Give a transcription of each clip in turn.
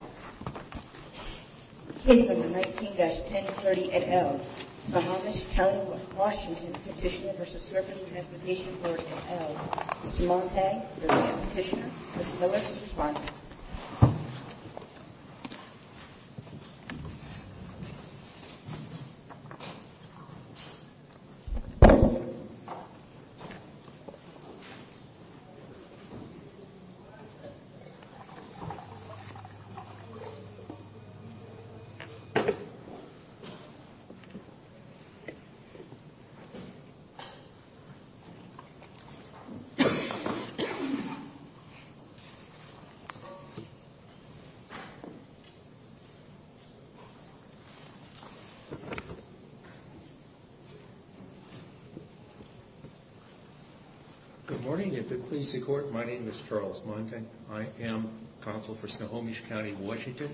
Case No. 19-1030, et al. Nohomish County, Washington, petitioner v. Service Transportation Board, et al. Mr. Montague, the petitioner. Ms. Miller, the respondent. Good morning. If it pleases the Court, my name is Charles Montague. I am Counsel for Nohomish County, Washington.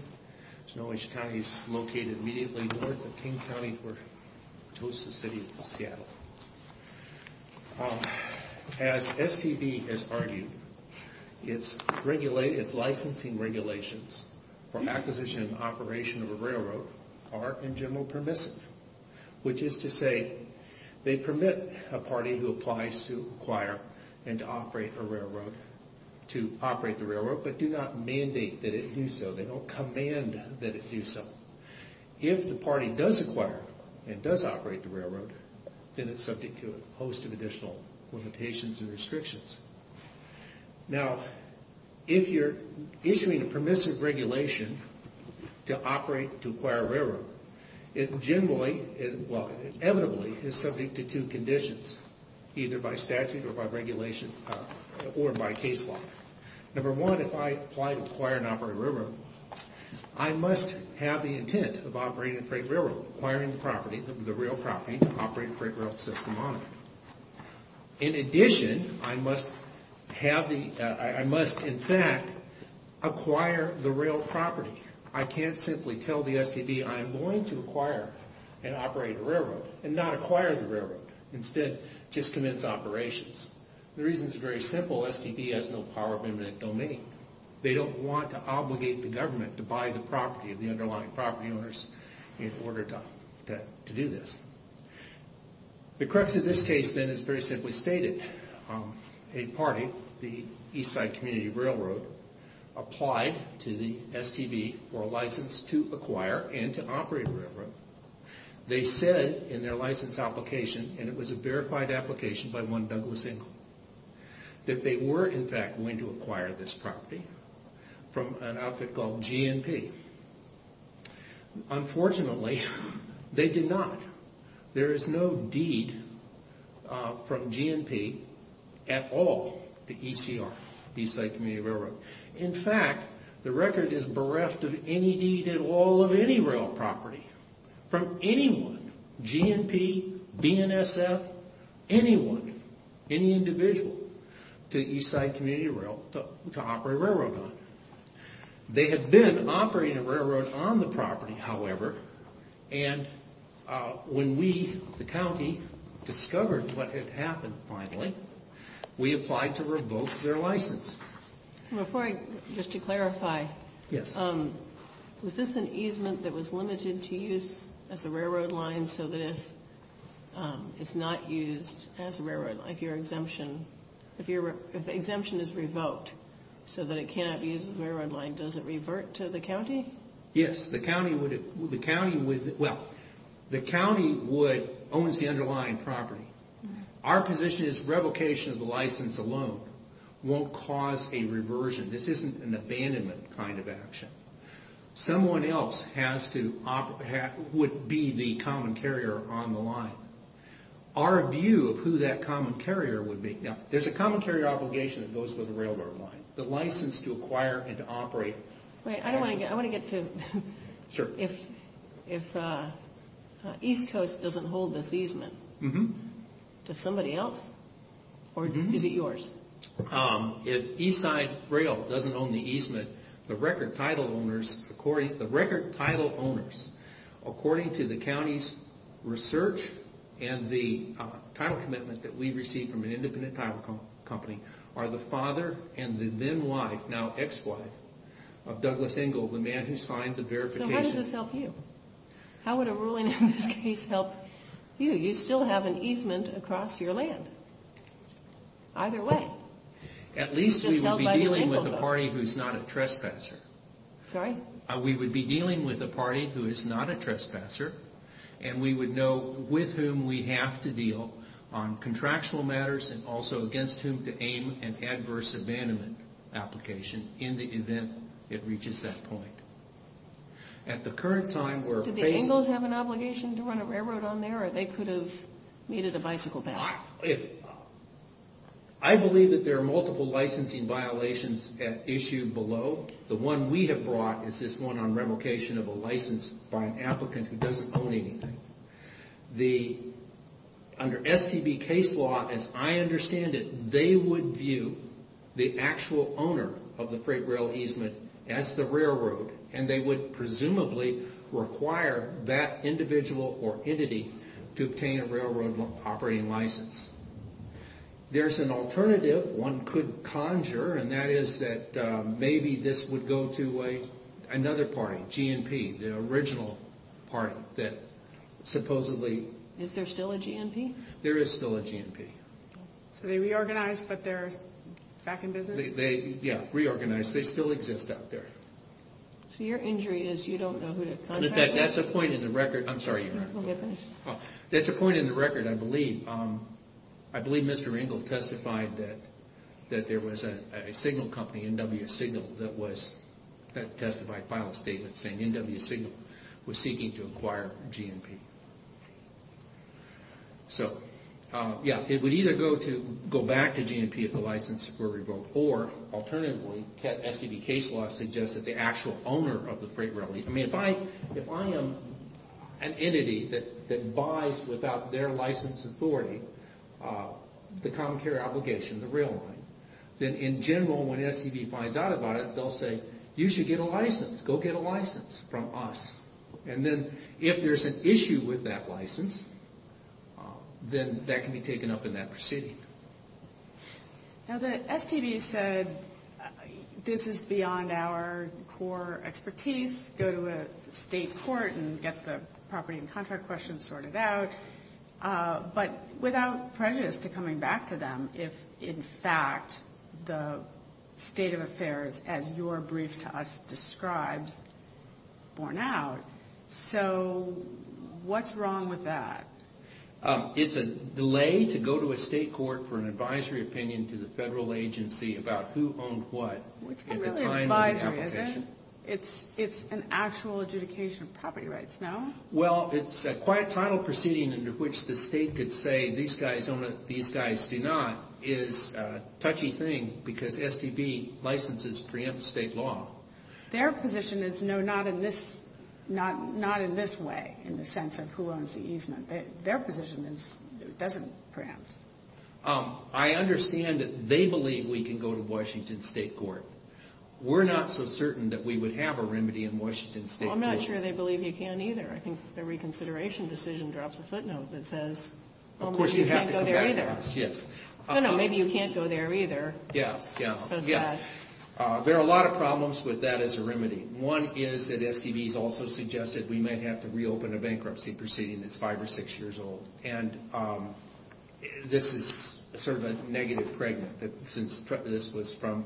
Snohomish County is located immediately north of King County, where it hosts the City of Seattle. As STB has argued, its licensing regulations for acquisition and operation of a railroad are, in general, permissive. Which is to say, they permit a party who applies to acquire and to operate the railroad, but do not mandate that it do so. They don't command that it do so. If the party does acquire and does operate the railroad, then it's subject to a host of additional limitations and restrictions. Now, if you're issuing a permissive regulation to operate, to acquire a railroad, it generally, well, inevitably, is subject to two conditions, either by statute or by regulation, or by case law. Number one, if I apply to acquire and operate a railroad, I must have the intent of operating a freight railroad, acquiring the property, the rail property, to operate a freight rail system on it. In addition, I must, in fact, acquire the rail property. I can't simply tell the STB, I'm going to acquire and operate a railroad, and not acquire the railroad. Instead, just commence operations. The reason is very simple. STB has no power of eminent domain. They don't want to obligate the government to buy the property of the underlying property owners in order to do this. The crux of this case, then, is very simply stated. A party, the Eastside Community Railroad, applied to the STB for a license to acquire and to operate a railroad. They said in their license application, and it was a verified application by one Douglas Ingle, that they were, in fact, going to acquire this property from an outfit called GNP. Unfortunately, they did not. There is no deed from GNP at all to ECR, Eastside Community Railroad. In fact, the record is bereft of any deed at all of any rail property from anyone, GNP, BNSF, anyone, any individual, to Eastside Community Rail to operate a railroad on. They had been operating a railroad on the property, however, and when we, the county, discovered what had happened, finally, we applied to revoke their license. Before I, just to clarify, was this an easement that was limited to use as a railroad line so that if it's not used as a railroad line, if your exemption, if the exemption is revoked so that it cannot be used as a railroad line, does it revert to the county? Yes, the county would, well, the county would, owns the underlying property. Our position is revocation of the license alone won't cause a reversion. This isn't an abandonment kind of action. Someone else has to, would be the common carrier on the line. Our view of who that common carrier would be, now, there's a common carrier obligation that goes with a railroad line. The license to acquire and to operate. Wait, I want to get to, if East Coast doesn't hold this easement, does somebody else? Or is it yours? If Eastside Rail doesn't own the easement, the record title owners, according to the county's research and the title commitment that we receive from an independent title company, are the father and the then wife, now ex-wife, of Douglas Engle, the man who signed the verification. So why does this help you? How would a ruling in this case help you? You still have an easement across your land. Either way. At least we would be dealing with a party who's not a trespasser. Sorry? We would be dealing with a party who is not a trespasser and we would know with whom we have to deal on contractual matters and also against whom to aim an adverse abandonment application in the event it reaches that point. At the current time, we're facing... Do the Engles have an obligation to run a railroad on there or they could have needed a bicycle path? I believe that there are multiple licensing violations at issue below. The one we have brought is this one on revocation of a license by an applicant who doesn't own anything. Under STB case law, as I understand it, they would view the actual owner of the freight rail easement as the railroad and they would presumably require that individual or entity to obtain a railroad operating license. There's an alternative one could conjure and that is that maybe this would go to another party, GNP, the original party that supposedly... Is there still a GNP? There is still a GNP. So they reorganized but they're back in business? Yeah, reorganized. They still exist out there. So your injury is you don't know who to contact? In fact, that's a point in the record. I'm sorry. Go ahead. Finish. That's a point in the record, I believe. I believe Mr. Engle testified that there was a signal company, NWSignal, that testified, filed a statement saying NWSignal was seeking to acquire GNP. It would either go back to GNP if the license were revoked or alternatively, STB case law suggests that the actual owner of the freight rail... I mean, if I am an entity that buys without their license authority the common carrier obligation, the rail line, then in general, when STB finds out about it, they'll say, you should get a license. Go get a license from us. And then if there's an issue with that license, then that can be taken up in that proceeding. Now, the STB said this is beyond our core expertise, go to a state court and get the property and contract questions sorted out, but without prejudice to coming back to them if in fact the state of affairs, as your brief to us describes, is borne out. So what's wrong with that? It's a delay to go to a state court for an advisory opinion to the federal agency about who owned what. It's kind of an advisory, isn't it? It's an actual adjudication of property rights, no? Well, it's quite a title proceeding under which the state could say, these guys own it, these guys do not, is a touchy thing because STB licenses preempt state law. Their position is no, not in this way, in the sense of who owns the easement. Their position is it doesn't preempt. I understand that they believe we can go to Washington State Court. We're not so certain that we would have a remedy in Washington State Court. Well, I'm not sure they believe you can either. I think the reconsideration decision drops a footnote that says, well, maybe you can't go there either. Yes. No, no, maybe you can't go there either. Yes, yes. So sad. There are a lot of problems with that as a remedy. One is that STB has also suggested we might have to reopen a bankruptcy proceeding that's five or six years old. And this is sort of a negative pregnant, that since this was from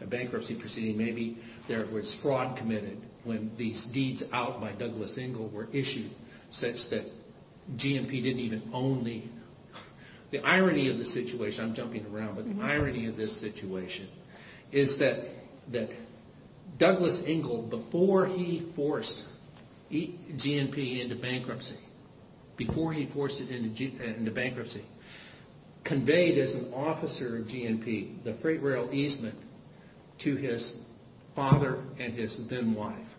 a bankruptcy proceeding, maybe there was fraud committed when these deeds out by Douglas Engel were issued, such that GMP didn't even own the—the irony of the situation, I'm jumping around, but the irony of this situation is that Douglas Engel, before he forced GMP into bankruptcy, before he forced it into bankruptcy, conveyed as an officer of GMP the freight rail easement to his father and his then wife.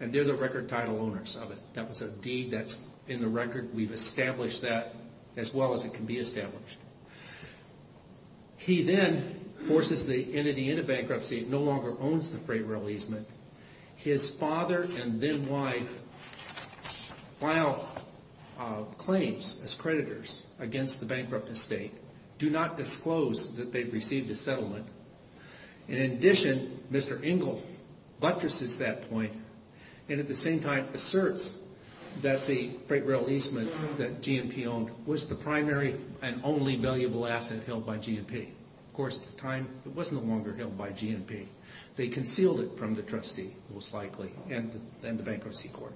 And they're the record title owners of it. That was a deed that's in the record. We've established that as well as it can be established. He then forces the entity into bankruptcy. It no longer owns the freight rail easement. His father and then wife file claims as creditors against the bankrupt estate, do not disclose that they've received a settlement. And in addition, Mr. Engel buttresses that point, and at the same time asserts that the freight rail easement that GMP owned was the primary and only valuable asset held by GMP. Of course, at the time, it was no longer held by GMP. They concealed it from the trustee, most likely, and the bankruptcy court.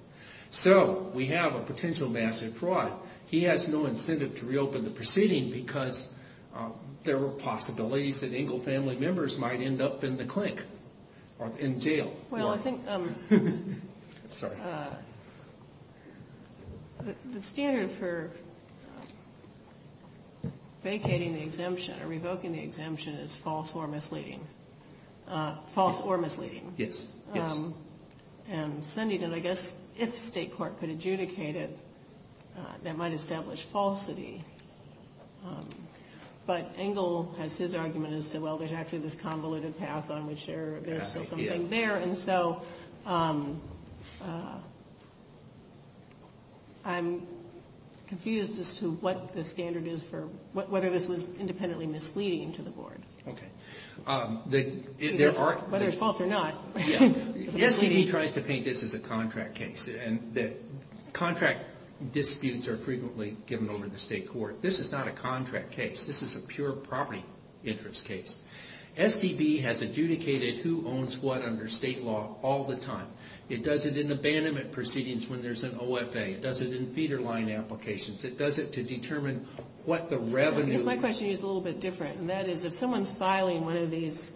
So we have a potential massive fraud. He has no incentive to reopen the proceeding because there were possibilities that Engel family members might end up in the clink or in jail. Well, I think the standard for vacating the exemption or revoking the exemption is false or misleading. False or misleading. Yes. And sending it, I guess, if the state court could adjudicate it, that might establish falsity. There's actually this convoluted path on which there is something there. And so I'm confused as to what the standard is for whether this was independently misleading to the board. Okay. Whether it's false or not. The STD tries to paint this as a contract case, and the contract disputes are frequently given over to the state court. This is not a contract case. This is a pure property interest case. STD has adjudicated who owns what under state law all the time. It does it in abandonment proceedings when there's an OFA. It does it in feeder line applications. It does it to determine what the revenue is. My question is a little bit different, and that is if someone's filing one of these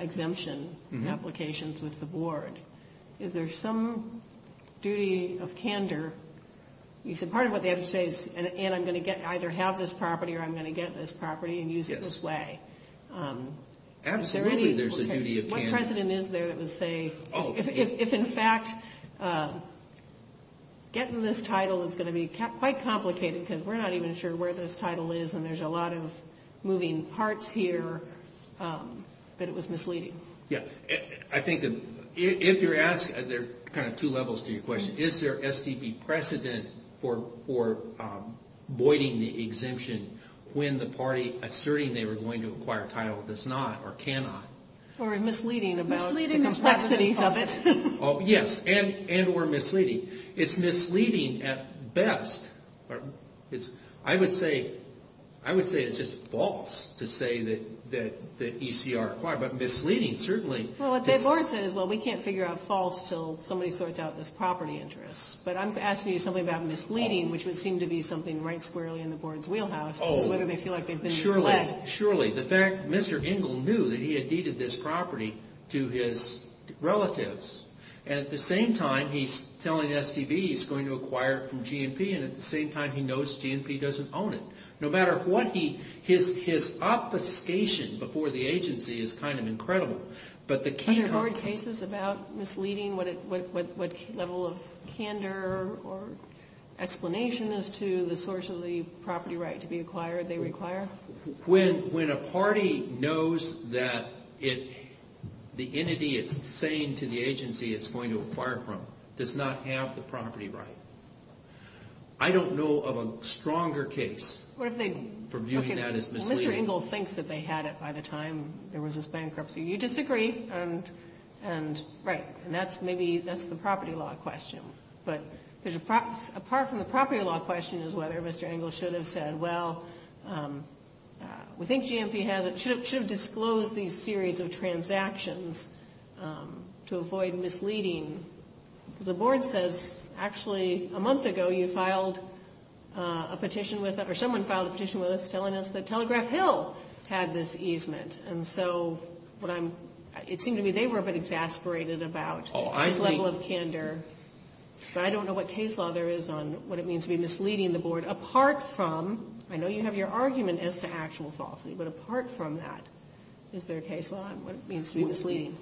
exemption applications with the board, is there some duty of candor? You said part of what they have to say is, and I'm going to either have this property or I'm going to get this property and use it this way. Absolutely there's a duty of candor. What precedent is there that would say if, in fact, getting this title is going to be quite complicated, because we're not even sure where this title is and there's a lot of moving parts here, that it was misleading. Yeah. I think if you're asked, there are kind of two levels to your question. Is there STD precedent for voiding the exemption when the party asserting they were going to acquire a title does not or cannot? Or misleading about the complexities of it. Yes, and or misleading. It's misleading at best. I would say it's just false to say that ECR acquired, but misleading certainly. Well, what the board says is, well, we can't figure out false until somebody sorts out this property interest. But I'm asking you something about misleading, which would seem to be something right squarely in the board's wheelhouse, is whether they feel like they've been misled. Surely. The fact that Mr. Engel knew that he had deeded this property to his relatives, and at the same time he's telling STV he's going to acquire it from GNP, and at the same time he knows GNP doesn't own it. No matter what, his obfuscation before the agency is kind of incredible. But the key are... Are there board cases about misleading? What level of candor or explanation as to the source of the property right to be acquired they require? When a party knows that the entity it's saying to the agency it's going to acquire from does not have the property right. I don't know of a stronger case for viewing that as misleading. Mr. Engel thinks that they had it by the time there was this bankruptcy. You disagree, and right. And that's maybe the property law question. But apart from the property law question is whether Mr. Engel should have said, well, we think GNP should have disclosed these series of transactions to avoid misleading. The board says actually a month ago you filed a petition with us, or someone filed a petition with us telling us that Telegraph Hill had this easement. And so what I'm... It seemed to me they were a bit exasperated about this level of candor. But I don't know what case law there is on what it means to be misleading the board, apart from I know you have your argument as to actual falsity, but apart from that is there a case law on what it means to be misleading?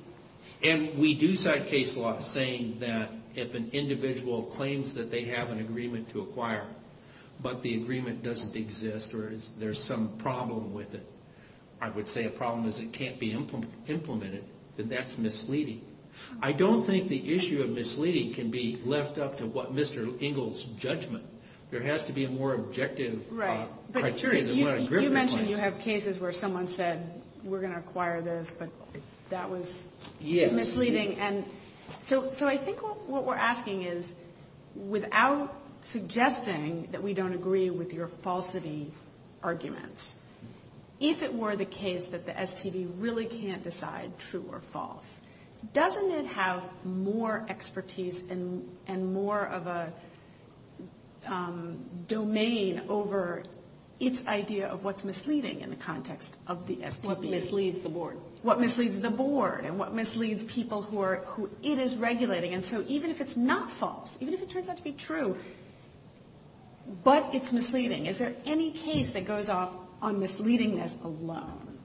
And we do cite case law saying that if an individual claims that they have an agreement to acquire, but the agreement doesn't exist or there's some problem with it, I would say a problem is it can't be implemented, then that's misleading. I don't think the issue of misleading can be left up to what Mr. Engel's judgment. There has to be a more objective criteria than what a gripper claims. And you have cases where someone said we're going to acquire this, but that was misleading. And so I think what we're asking is without suggesting that we don't agree with your falsity argument, if it were the case that the STD really can't decide true or false, doesn't it have more expertise and more of a domain over its idea of what's misleading in the context of the STD? What misleads the board. What misleads the board and what misleads people who it is regulating. And so even if it's not false, even if it turns out to be true, but it's misleading, is there any case that goes off on misleadingness alone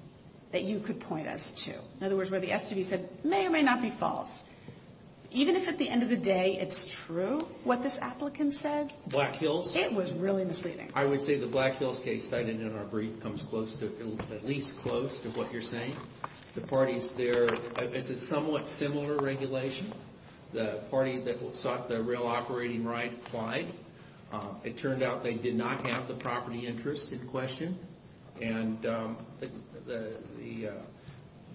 that you could point us to? In other words, where the STD said may or may not be false. Even if at the end of the day it's true what this applicant said. Black Hills. It was really misleading. I would say the Black Hills case cited in our brief comes at least close to what you're saying. The parties there, it's a somewhat similar regulation. The party that sought the real operating right applied. It turned out they did not have the property interest in question. And the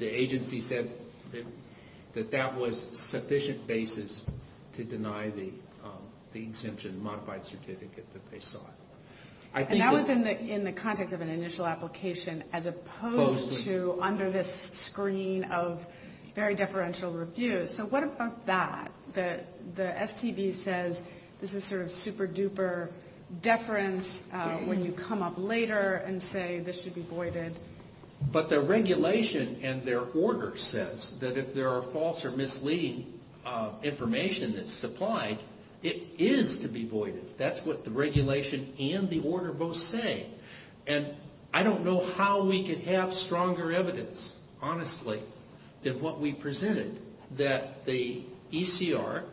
agency said that that was sufficient basis to deny the exemption modified certificate that they sought. And that was in the context of an initial application as opposed to under this screen of very deferential reviews. So what about that? The STD says this is sort of super duper deference when you come up later and say this should be voided. But the regulation and their order says that if there are false or misleading information that's supplied, it is to be voided. That's what the regulation and the order both say. And I don't know how we could have stronger evidence, honestly, than what we presented. That the ECR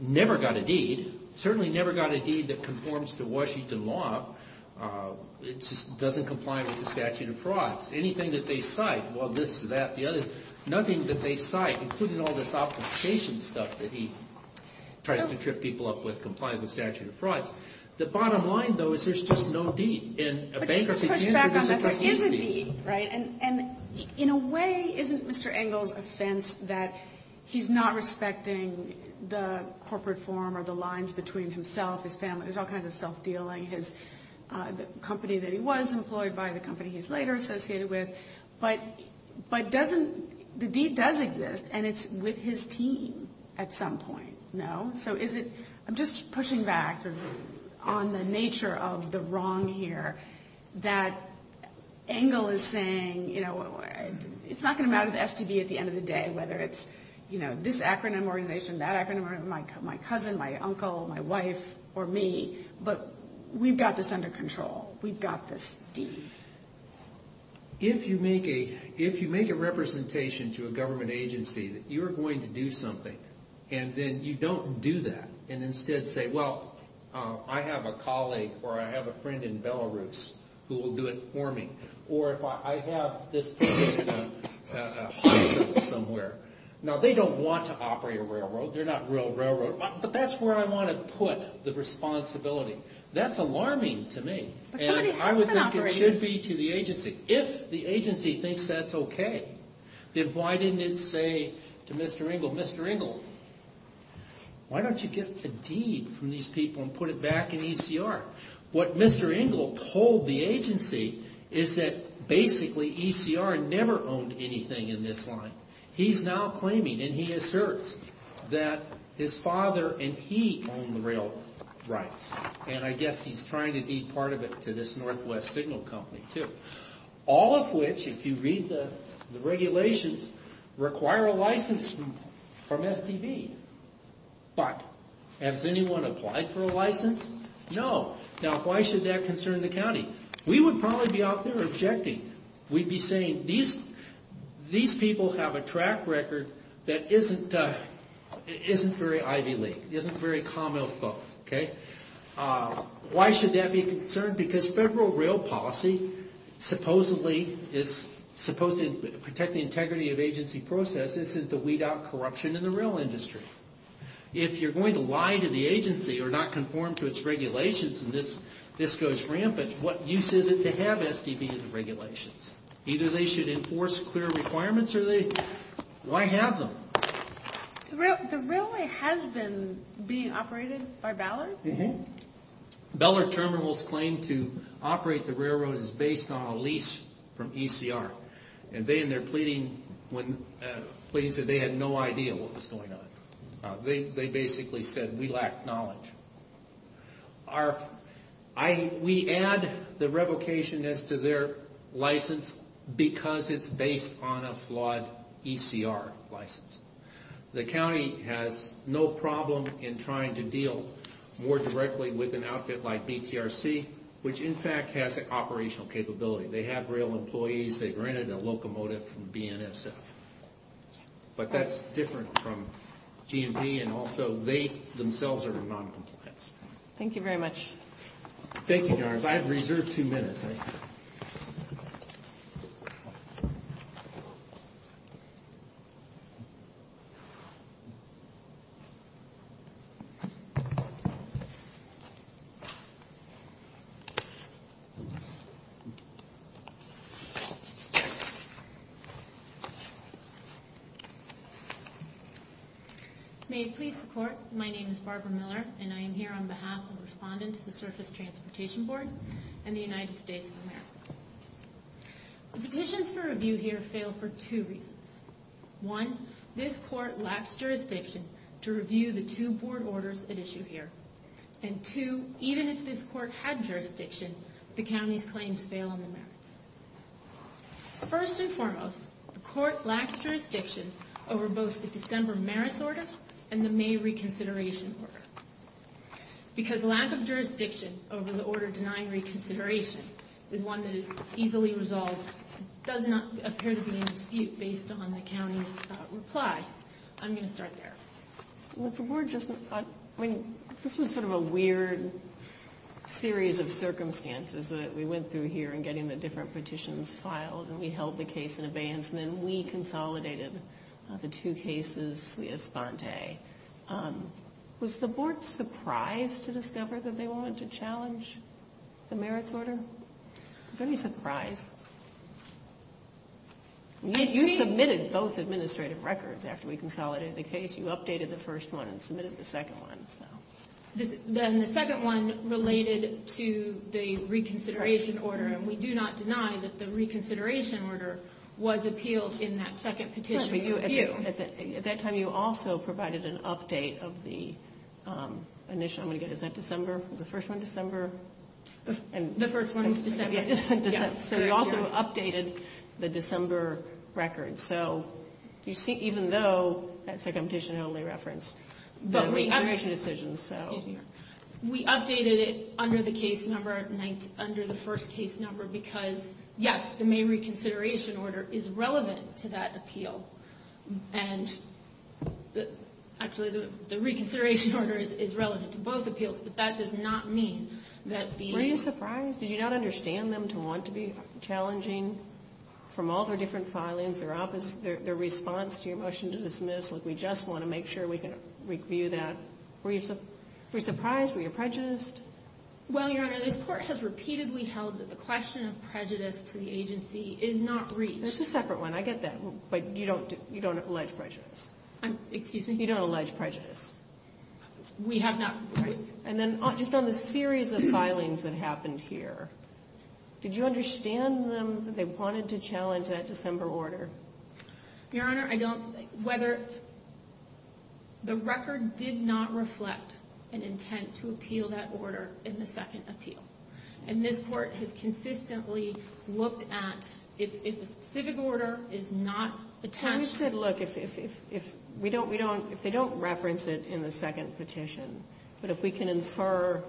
never got a deed. Certainly never got a deed that conforms to Washington law. It just doesn't comply with the statute of frauds. Anything that they cite, well this, that, the other, nothing that they cite, including all this application stuff that he tries to trip people up with, complies with statute of frauds. The bottom line, though, is there's just no deed in a bankruptcy case. But just to push back on that, there is a deed, right? And in a way, isn't Mr. Engel's offense that he's not respecting the corporate form or the lines between himself, his family? There's all kinds of self-dealing, his company that he was employed by, the company he's later associated with. But doesn't, the deed does exist, and it's with his team at some point, no? So is it, I'm just pushing back on the nature of the wrong here. That Engel is saying, you know, it's not going to matter to the STD at the end of the day, whether it's, you know, this acronym organization, that acronym organization, my cousin, my uncle, my wife, or me. But we've got this under control. We've got this deed. If you make a representation to a government agency that you're going to do something, and then you don't do that, and instead say, well, I have a colleague or I have a friend in Belarus who will do it for me. Or if I have this person in a hospital somewhere. Now, they don't want to operate a railroad. They're not real railroad. But that's where I want to put the responsibility. That's alarming to me. And I would think it should be to the agency, if the agency thinks that's okay. Then why didn't it say to Mr. Engel, Mr. Engel, why don't you get the deed from these people and put it back in ECR? What Mr. Engel told the agency is that basically ECR never owned anything in this line. He's now claiming, and he asserts, that his father and he own the railroad rights. And I guess he's trying to be part of it to this Northwest Signal Company, too. All of which, if you read the regulations, require a license from STB. But has anyone applied for a license? No. Now, why should that concern the county? We would probably be out there objecting. We'd be saying, these people have a track record that isn't very Ivy League, isn't very Commonwealth. Why should that be a concern? Because federal rail policy supposedly is supposed to protect the integrity of agency processes to weed out corruption in the rail industry. If you're going to lie to the agency or not conform to its regulations and this goes rampant, what use is it to have STB in the regulations? Either they should enforce clear requirements or they, why have them? The railway has been being operated by Ballard? Mm-hmm. Ballard Terminal's claim to operate the railroad is based on a lease from ECR. And they and their pleading said they had no idea what was going on. They basically said, we lack knowledge. We add the revocation as to their license because it's based on a flawed ECR license. The county has no problem in trying to deal more directly with an outfit like BTRC, which in fact has an operational capability. They have rail employees. They've rented a locomotive from BNSF. But that's different from GMP and also they themselves are noncompliance. Thank you very much. Thank you, Your Honors. I have reserved two minutes. May it please the Court, my name is Barbara Miller and I am here on behalf of the respondents to the Surface Transportation Board and the United States of America. The petitions for review here fail for two reasons. One, this Court lacks jurisdiction to review the two board orders at issue here. And two, even if this Court had jurisdiction, the county's claims fail on the merits. First and foremost, the Court lacks jurisdiction over both the December merits order and the May reconsideration order. Because lack of jurisdiction over the order denying reconsideration is one that is easily resolved, does not appear to be in dispute based on the county's reply. I'm going to start there. This was sort of a weird series of circumstances that we went through here in getting the different petitions filed and we held the case in abeyance and then we consolidated the two cases sui espante. Was the Board surprised to discover that they wanted to challenge the merits order? Was there any surprise? You submitted both administrative records after we consolidated the case. You updated the first one and submitted the second one. Then the second one related to the reconsideration order, and we do not deny that the reconsideration order was appealed in that second petition. At that time you also provided an update of the initial. Is that December? Was the first one December? The first one was December. So you also updated the December records. Even though that second petition only referenced the reconsideration decisions. We updated it under the first case number because, yes, the May reconsideration order is relevant to that appeal. Actually, the reconsideration order is relevant to both appeals, but that does not mean that the appeals. Were you surprised? Did you not understand them to want to be challenging? From all the different filings, their response to your motion to dismiss, we just want to make sure we can review that. Were you surprised? Were you prejudiced? Well, Your Honor, this Court has repeatedly held that the question of prejudice to the agency is not reached. That's a separate one. I get that, but you don't allege prejudice. Excuse me? You don't allege prejudice. We have not. And then just on the series of filings that happened here, did you understand them that they wanted to challenge that December order? Your Honor, I don't. Whether the record did not reflect an intent to appeal that order in the second appeal. And this Court has consistently looked at if a specific order is not attached. We said, look, if they don't reference it in the second petition, but if we can infer,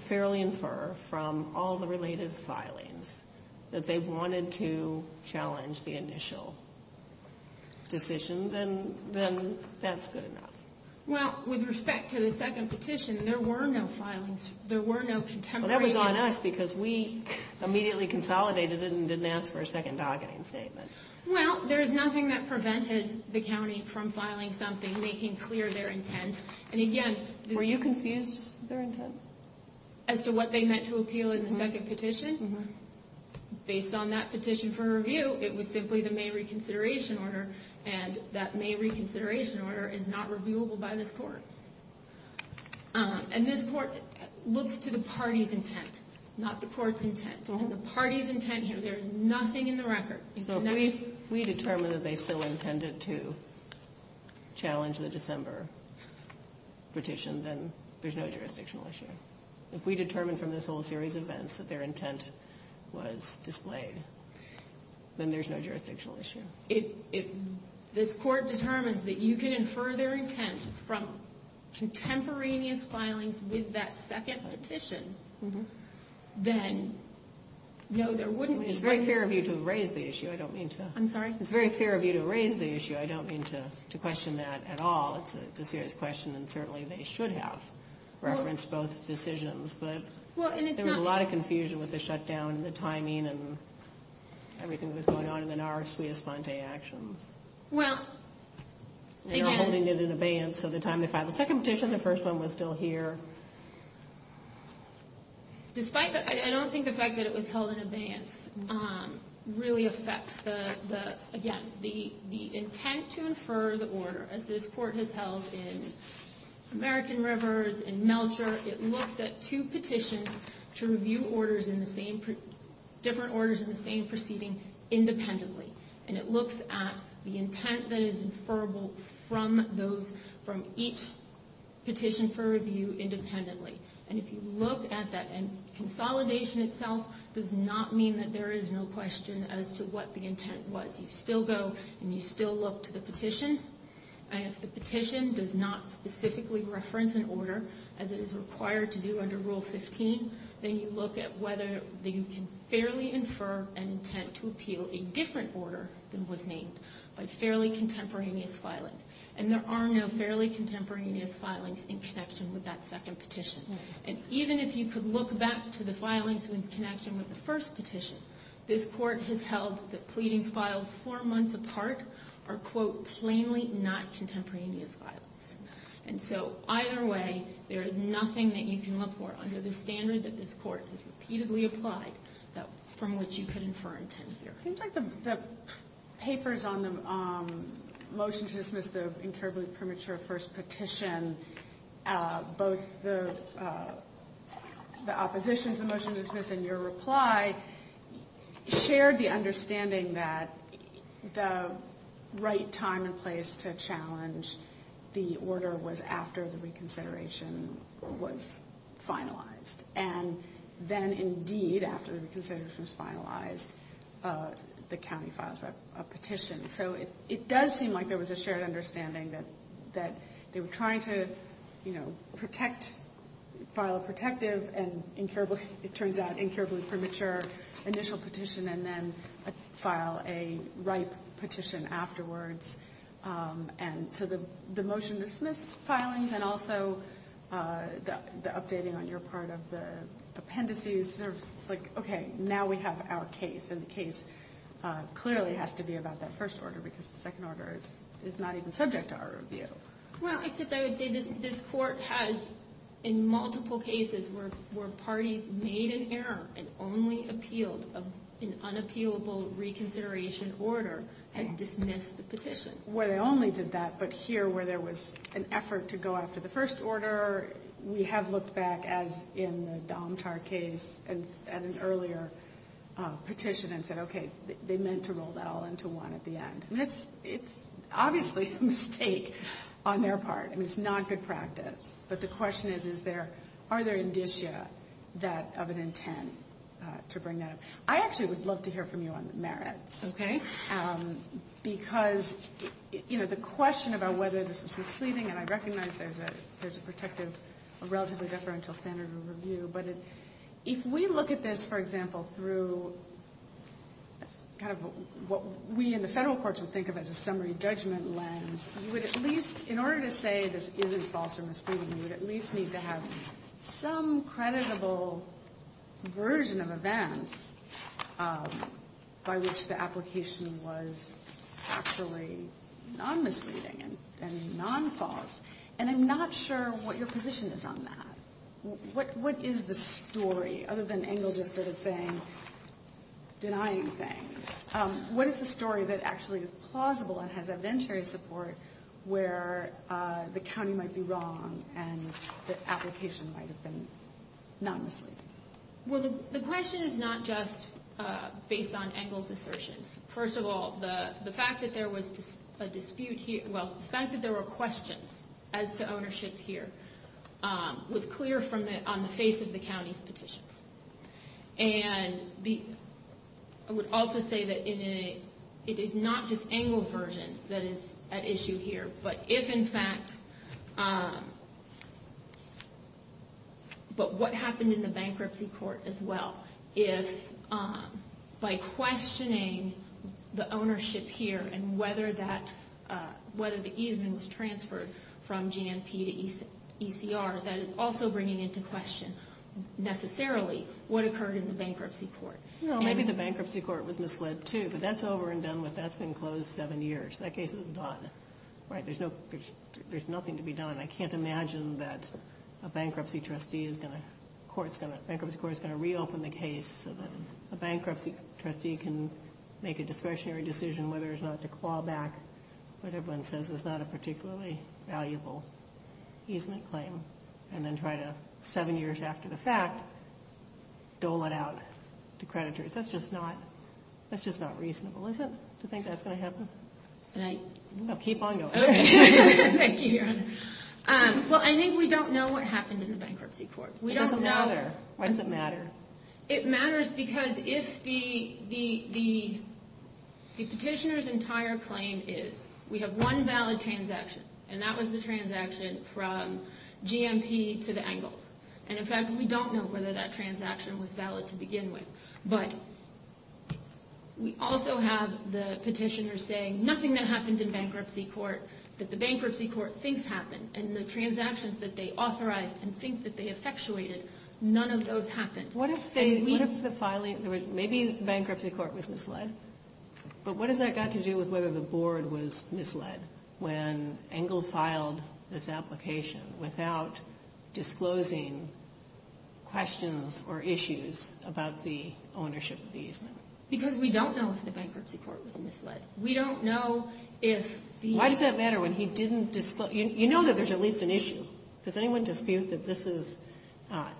fairly infer, from all the related filings that they wanted to challenge the initial decision, then that's good enough. Well, with respect to the second petition, there were no filings. There were no contemporary. Well, that was on us because we immediately consolidated it and didn't ask for a second docketing statement. Well, there is nothing that prevented the county from filing something, making clear their intent. Were you confused as to their intent? As to what they meant to appeal in the second petition? Based on that petition for review, it was simply the May reconsideration order, and that May reconsideration order is not reviewable by this Court. And this Court looks to the party's intent, not the Court's intent. And the party's intent here, there is nothing in the record. So if we determine that they still intended to challenge the December petition, then there's no jurisdictional issue. If we determine from this whole series of events that their intent was displayed, then there's no jurisdictional issue. If this Court determines that you can infer their intent from contemporaneous filings with that second petition, then no, there wouldn't be. It's very fair of you to raise the issue. I don't mean to. I'm sorry? It's very fair of you to raise the issue. I don't mean to question that at all. It's a serious question, and certainly they should have referenced both decisions. But there was a lot of confusion with the shutdown and the timing and everything that was going on in the NARA-Suiz-Fonte actions. Well, again. They were holding it in abeyance of the time they filed the second petition. The first one was still here. I don't think the fact that it was held in abeyance really affects, again, the intent to infer the order, as this Court has held in American Rivers, in Melcher. It looks at two petitions to review different orders in the same proceeding independently. And it looks at the intent that is inferable from each petition for review independently. And if you look at that, and consolidation itself does not mean that there is no question as to what the intent was. You still go and you still look to the petition. And if the petition does not specifically reference an order, as it is required to do under Rule 15, then you look at whether you can fairly infer an intent to appeal a different order than was named by fairly contemporaneous filing. And there are no fairly contemporaneous filings in connection with that second petition. And even if you could look back to the filings in connection with the first petition, this Court has held that pleadings filed four months apart are, quote, plainly not contemporaneous filings. And so either way, there is nothing that you can look for under the standard that this Court has repeatedly applied from which you could infer intent here. Seems like the papers on the motion to dismiss the incurably premature first petition, both the opposition to the motion to dismiss and your reply, shared the understanding that the right time and place to challenge the order was after the reconsideration was finalized. And then, indeed, after the reconsideration was finalized, the county files a petition. So it does seem like there was a shared understanding that they were trying to, you know, record initial petition and then file a ripe petition afterwards. And so the motion to dismiss filings and also the updating on your part of the appendices, it's like, okay, now we have our case. And the case clearly has to be about that first order because the second order is not even subject to our review. Well, except I would say this Court has, in multiple cases where parties made an error and only appealed an unappealable reconsideration order, has dismissed the petition. Well, they only did that, but here where there was an effort to go after the first order, we have looked back, as in the Domtar case, at an earlier petition and said, okay, they meant to roll that all into one at the end. I mean, it's obviously a mistake on their part. I mean, it's not good practice. But the question is, is there, are there indicia of an intent to bring that up? I actually would love to hear from you on the merits. Because, you know, the question about whether this was misleading, and I recognize there's a protective, a relatively deferential standard of review, but if we look at this, for example, through kind of what we in the federal courts would do, what we would think of as a summary judgment lens, you would at least, in order to say this isn't false or misleading, you would at least need to have some creditable version of events by which the application was actually non-misleading and non-false. And I'm not sure what your position is on that. What, what is the story, other than Engel just sort of saying, denying things? What is the story that actually is positive? That is plausible and has evidentiary support where the county might be wrong and the application might have been non-misleading? Well, the question is not just based on Engel's assertions. First of all, the fact that there was a dispute here, well, the fact that there were questions as to ownership here was clear on the face of the county's petitions. And the, I would also say that in a, it is not just Engel's version that is at issue here, but if in fact, but what happened in the bankruptcy court as well, if by questioning the ownership here and whether that, whether the easement was transferred from GMP to ECR, that is also bringing into question, necessarily, the ownership of the property. What occurred in the bankruptcy court? Well, I think we don't know what happened in the bankruptcy court. It doesn't matter. Why does it matter? It matters because if the, the, the, the petitioner's entire claim is, we have one valid transaction and that was the transaction from GMP to the Engels. And in fact, we don't know whether that transaction is valid. But we also have the petitioner saying, nothing that happened in bankruptcy court that the bankruptcy court thinks happened. And the transactions that they authorized and think that they effectuated, none of those happened. What if they, what if the filing, maybe the bankruptcy court was misled, but what has that got to do with whether the board was misled when Engel filed this application without disclosing questions or issues? Because we don't know if the bankruptcy court was misled. We don't know if the... Why does that matter when he didn't disclose? You know that there's at least an issue. Does anyone dispute that this is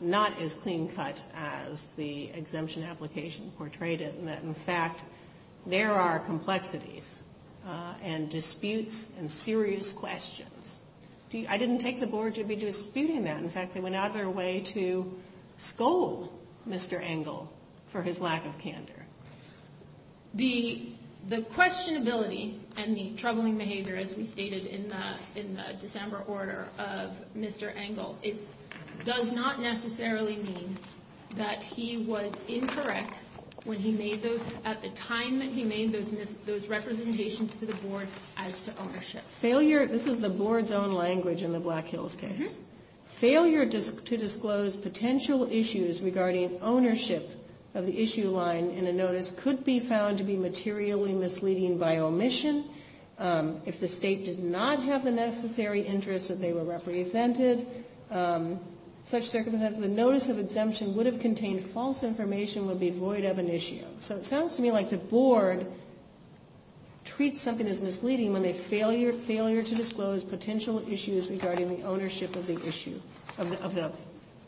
not as clean cut as the exemption application portrayed it? And that, in fact, there are complexities and disputes and serious questions. I didn't take the board to be disputing that. In fact, they went out of their way to scold Mr. Engel for his lack of candor. The, the questionability and the troubling behavior, as we stated in the, in the December order of Mr. Engel, it does not necessarily mean that he was incorrect when he made those, at the time that he made those, those representations to the board as to ownership. Failure, this is the board's own language in the Black Hills case. Failure to disclose potential issues regarding ownership of the issue line in a notice could be found to be materially misleading by omission. If the state did not have the necessary interest that they were represented, such circumstances, the notice of exemption would have contained false information, would be void of an issue. So, so it sounds to me like the board treats something as misleading when they failure, failure to disclose potential issues regarding the ownership of the issue, of the, of the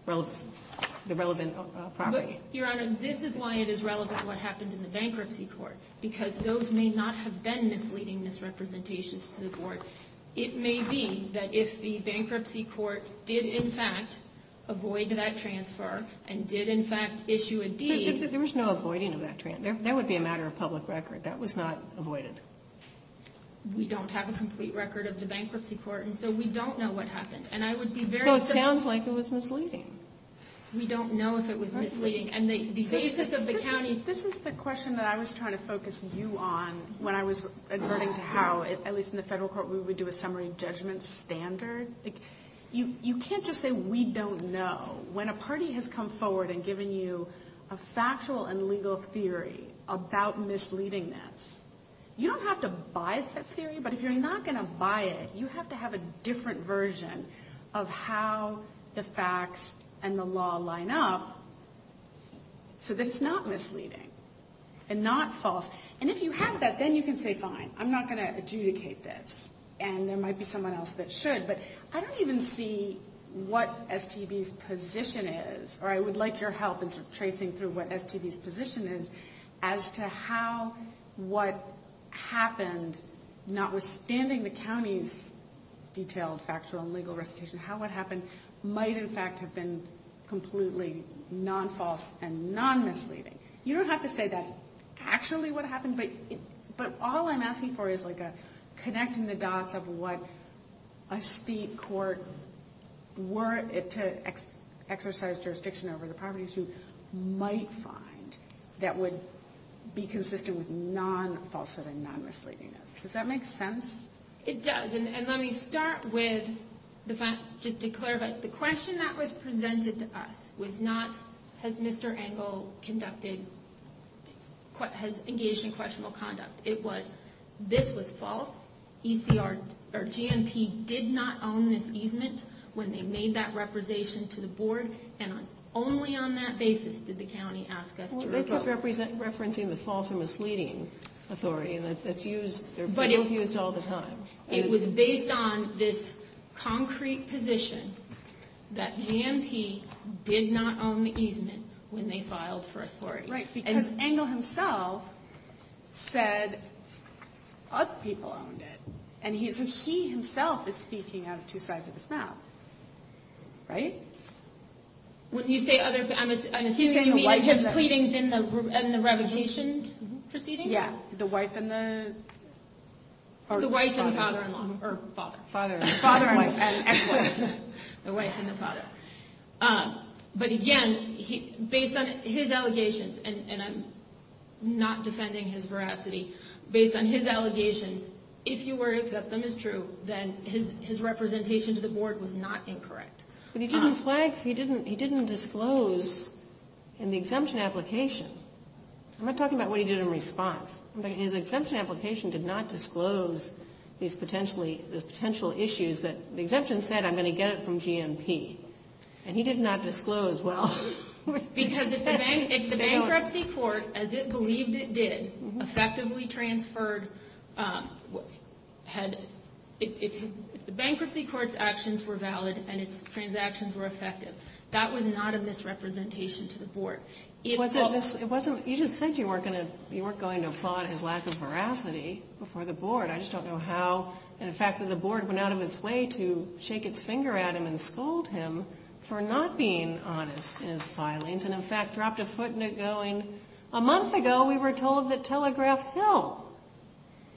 relevant, the relevant property. Your Honor, this is why it is relevant what happened in the bankruptcy court, because those may not have been misleading misrepresentations to the board. It may be that if the bankruptcy court did, in fact, avoid that transfer and did, in fact, issue a deed. There was no avoiding of that transfer. That would be a matter of public record. That was not avoided. We don't have a complete record of the bankruptcy court, and so we don't know what happened, and I would be very. So it sounds like it was misleading. We don't know if it was misleading, and the basis of the county. This is the question that I was trying to focus you on when I was adverting to how, at least in the federal court, we would do a summary judgment standard. You can't just say we don't know. When a party has come forward and given you a factual and legal theory about misleadingness, you don't have to buy that theory. But if you're not going to buy it, you have to have a different version of how the facts and the law line up so that it's not misleading and not false. And if you have that, then you can say, fine, I'm not going to adjudicate this. And there might be someone else that should, but I don't even see what STB's position is. Or I would like your help in tracing through what STB's position is as to how what happened, notwithstanding the county's detailed factual and legal recitation, how what happened might in fact have been completely non-false and non-misleading. You don't have to say that's actually what happened, but all I'm asking for is like a connecting the dots. Connecting the dots of what a state court were to exercise jurisdiction over the properties who might find that would be consistent with non-falsehood and non-misleadingness. Does that make sense? It does. And let me start with the fact, just to clarify, the question that was presented to us was not, has Mr. Engel conducted, has engaged in questionable conduct. It was, this was false. GMP did not own this easement when they made that representation to the board. And only on that basis did the county ask us to recall. Well, they kept referencing the false and misleading authority, and that's used, they're being used all the time. It was based on this concrete position that GMP did not own the easement when they filed for authority. Right, because Engel himself said other people owned it. And he himself is speaking out of two sides of his mouth. Right? When you say other, I'm assuming you mean his pleadings in the revocation proceeding? Yeah, the wife and the father-in-law. Or father. Father and ex-wife. The wife and the father. But again, based on his allegations, and I'm not defending his veracity, based on his allegations, if you were to accept them as true, then his representation to the board was not incorrect. But he didn't flag, he didn't disclose in the exemption application. I'm not talking about what he did in response. His exemption application did not disclose these potential issues that the exemption said, I'm going to get it from GMP. And he did not disclose, well. Because if the bankruptcy court, as it believed it did, effectively transferred, if the bankruptcy court's actions were valid and its transactions were effective, that was not of misrepresentation to the board. You just said you weren't going to applaud his lack of veracity before the board. I just don't know how. And the fact that the board went out of its way to shake its finger at him and scold him for not being honest in his filings, and in fact dropped a foot in it going, a month ago we were told that Telegraph Hill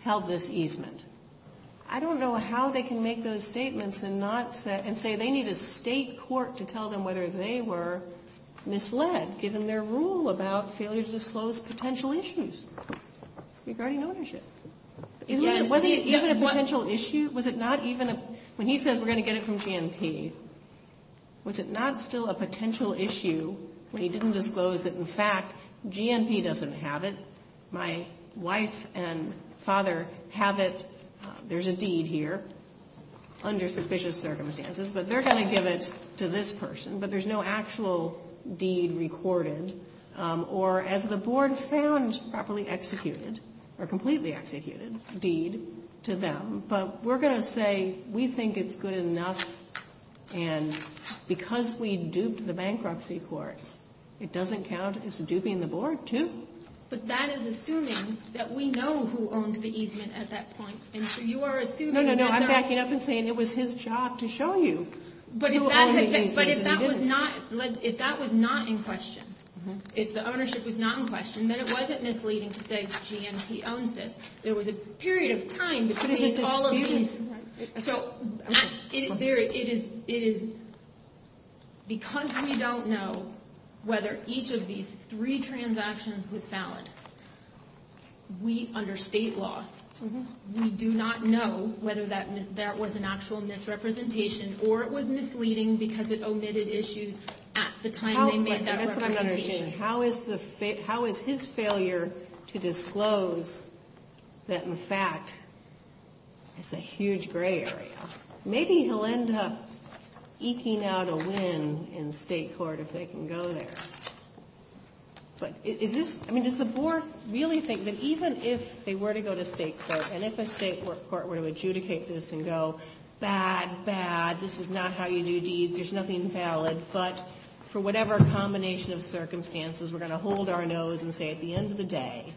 held this easement. I don't know how they can make those statements and not say, and say they need a State court to tell them whether they were misled, given their rule about failure to disclose potential issues regarding ownership. Was it even a potential issue? Was it not even a, when he said we're going to get it from GMP, was it not still a potential issue when he didn't disclose that in fact GMP doesn't have it? My wife and father have it. There's a deed here, under suspicious circumstances, but they're going to give it to this person. But there's no actual deed recorded. Or as the board found properly executed, or completely executed deed to them. But we're going to say we think it's good enough, and because we duped the bankruptcy court, it doesn't count as duping the board, too. But that is assuming that we know who owned the easement at that point. No, no, no, I'm backing up and saying it was his job to show you who owned the easement. But if that was not in question, if the ownership was not in question, then it wasn't misleading to say GMP owns this. There was a period of time to create all of these. So, because we don't know whether each of these three transactions was valid, we, under state law, we do not know whether that was an actual misrepresentation, or it was misleading because it omitted issues at the time they made that representation. And that's what I'm not understanding. How is his failure to disclose that, in fact, it's a huge gray area? Maybe he'll end up eking out a win in State court if they can go there. But is this — I mean, does the board really think that even if they were to go to State court, and if a State court were to adjudicate this and go, bad, bad, this is not how you do deeds, there's nothing valid, but for whatever combination of circumstances, we're going to hold our nose and say at the end of the day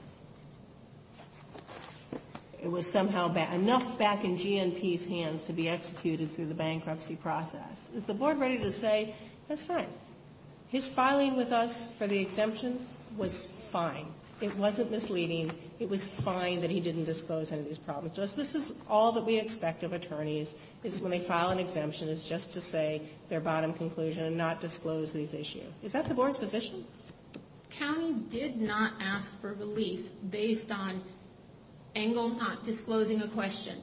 it was somehow bad. Enough back in GMP's hands to be executed through the bankruptcy process. Is the board ready to say that's fine? His filing with us for the exemption was fine. It wasn't misleading. It was fine that he didn't disclose any of these problems to us. This is all that we expect of attorneys is when they file an exemption is just to say their bottom conclusion and not disclose these issues. Is that the board's position? The county did not ask for relief based on Engle not disclosing a question.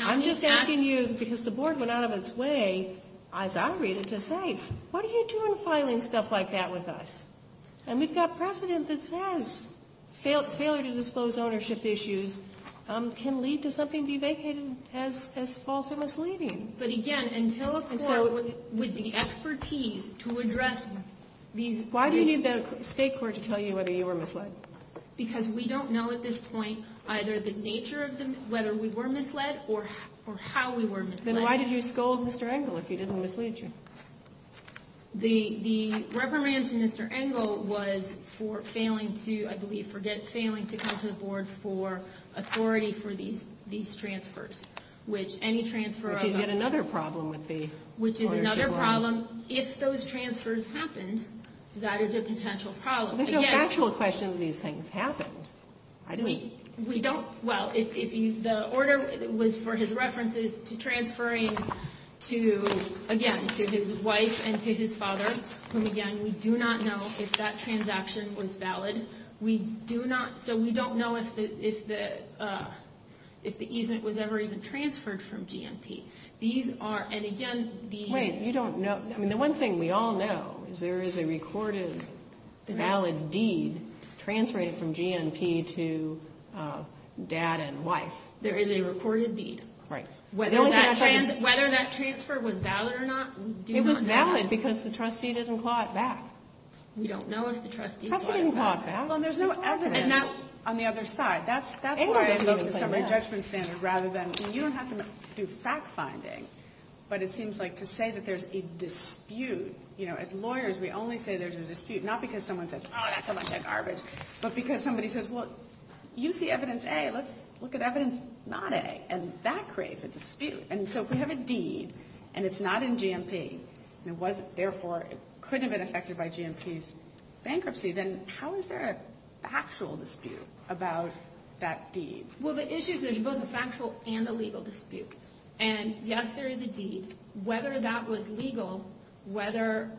I'm just asking you because the board went out of its way, as I read it, to say, what are you doing filing stuff like that with us? And we've got precedent that says failure to disclose ownership issues can lead to something be vacated as false or misleading. But, again, until a court with the expertise to address these. Why do you need the State court to tell you whether you were misled? Because we don't know at this point either the nature of whether we were misled or how we were misled. Then why did you scold Mr. Engle if he didn't mislead you? The reprimand to Mr. Engle was for failing to, I believe, for failing to come to the board for authority for these transfers, which any transfer of ownership. Which is yet another problem with the ownership law. Which is another problem. If those transfers happened, that is a potential problem. There's no factual question that these things happened. We don't. Well, if the order was for his references to transferring to, again, to his wife and to his father, whom, again, we do not know if that transaction was valid. We do not. So we don't know if the easement was ever even transferred from GNP. These are. And, again, the. Wait. You don't know. I mean, the one thing we all know is there is a recorded valid deed transferred from GNP to dad and wife. There is a recorded deed. Right. Whether that transfer was valid or not, we do not know that. It was valid because the trustee didn't claw it back. We don't know if the trustee clawed it back. The trustee didn't claw it back. Well, and there's no evidence on the other side. That's why I look at the summary judgment standard rather than. You don't have to do fact finding, but it seems like to say that there's a dispute. You know, as lawyers, we only say there's a dispute not because someone says, oh, that's a bunch of garbage, but because somebody says, well, you see evidence. Hey, let's look at evidence. Not a. And that creates a dispute. And so we have a deed and it's not in GNP. It wasn't. Therefore, it could have been affected by GNP's bankruptcy. Then how is there a factual dispute about that deed? Well, the issue is there's both a factual and a legal dispute. And, yes, there is a deed. Whether that was legal, whether,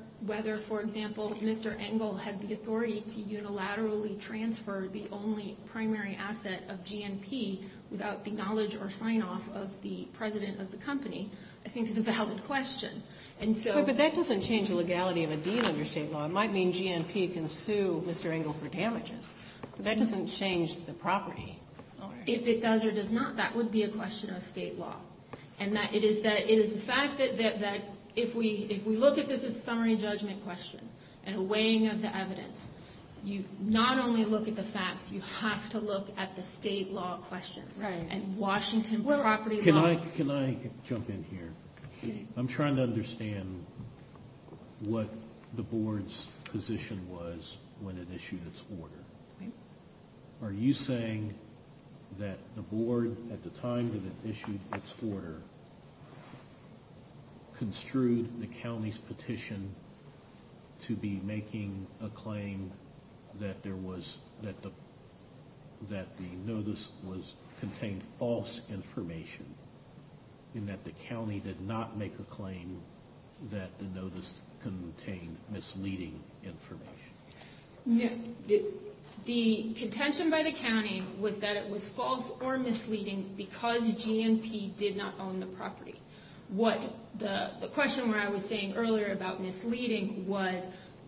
for example, Mr. Engle had the authority to unilaterally transfer the only primary asset of GNP without the knowledge or sign-off of the president of the company, I think is a valid question. But that doesn't change the legality of a deed under state law. It might mean GNP can sue Mr. Engle for damages. But that doesn't change the property. If it does or does not, that would be a question of state law. And it is the fact that if we look at this as a summary judgment question and a weighing of the evidence, you not only look at the facts, you have to look at the state law question and Washington property law. Can I jump in here? I'm trying to understand what the board's position was when it issued its order. Are you saying that the board, at the time that it issued its order, construed the county's petition to be making a claim that the notice contained false information and that the county did not make a claim that the notice contained misleading information? The contention by the county was that it was false or misleading because GNP did not own the property. The question where I was saying earlier about misleading was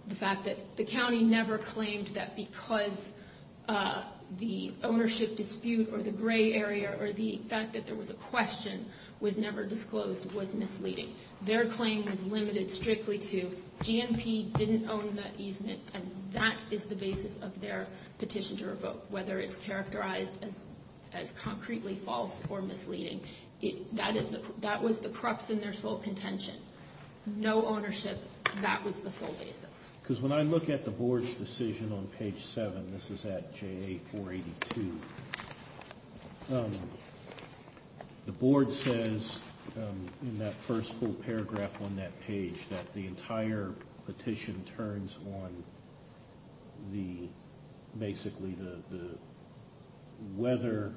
the fact that the county never claimed that because the ownership dispute or the gray area or the fact that there was a question was never disclosed was misleading. Their claim was limited strictly to GNP didn't own the easement and that is the basis of their petition to revoke, whether it's characterized as concretely false or misleading. That was the crux in their sole contention. No ownership. That was the sole basis. Because when I look at the board's decision on page 7, this is at JA 482, the board says in that first full paragraph on that page that the entire petition turns on basically whether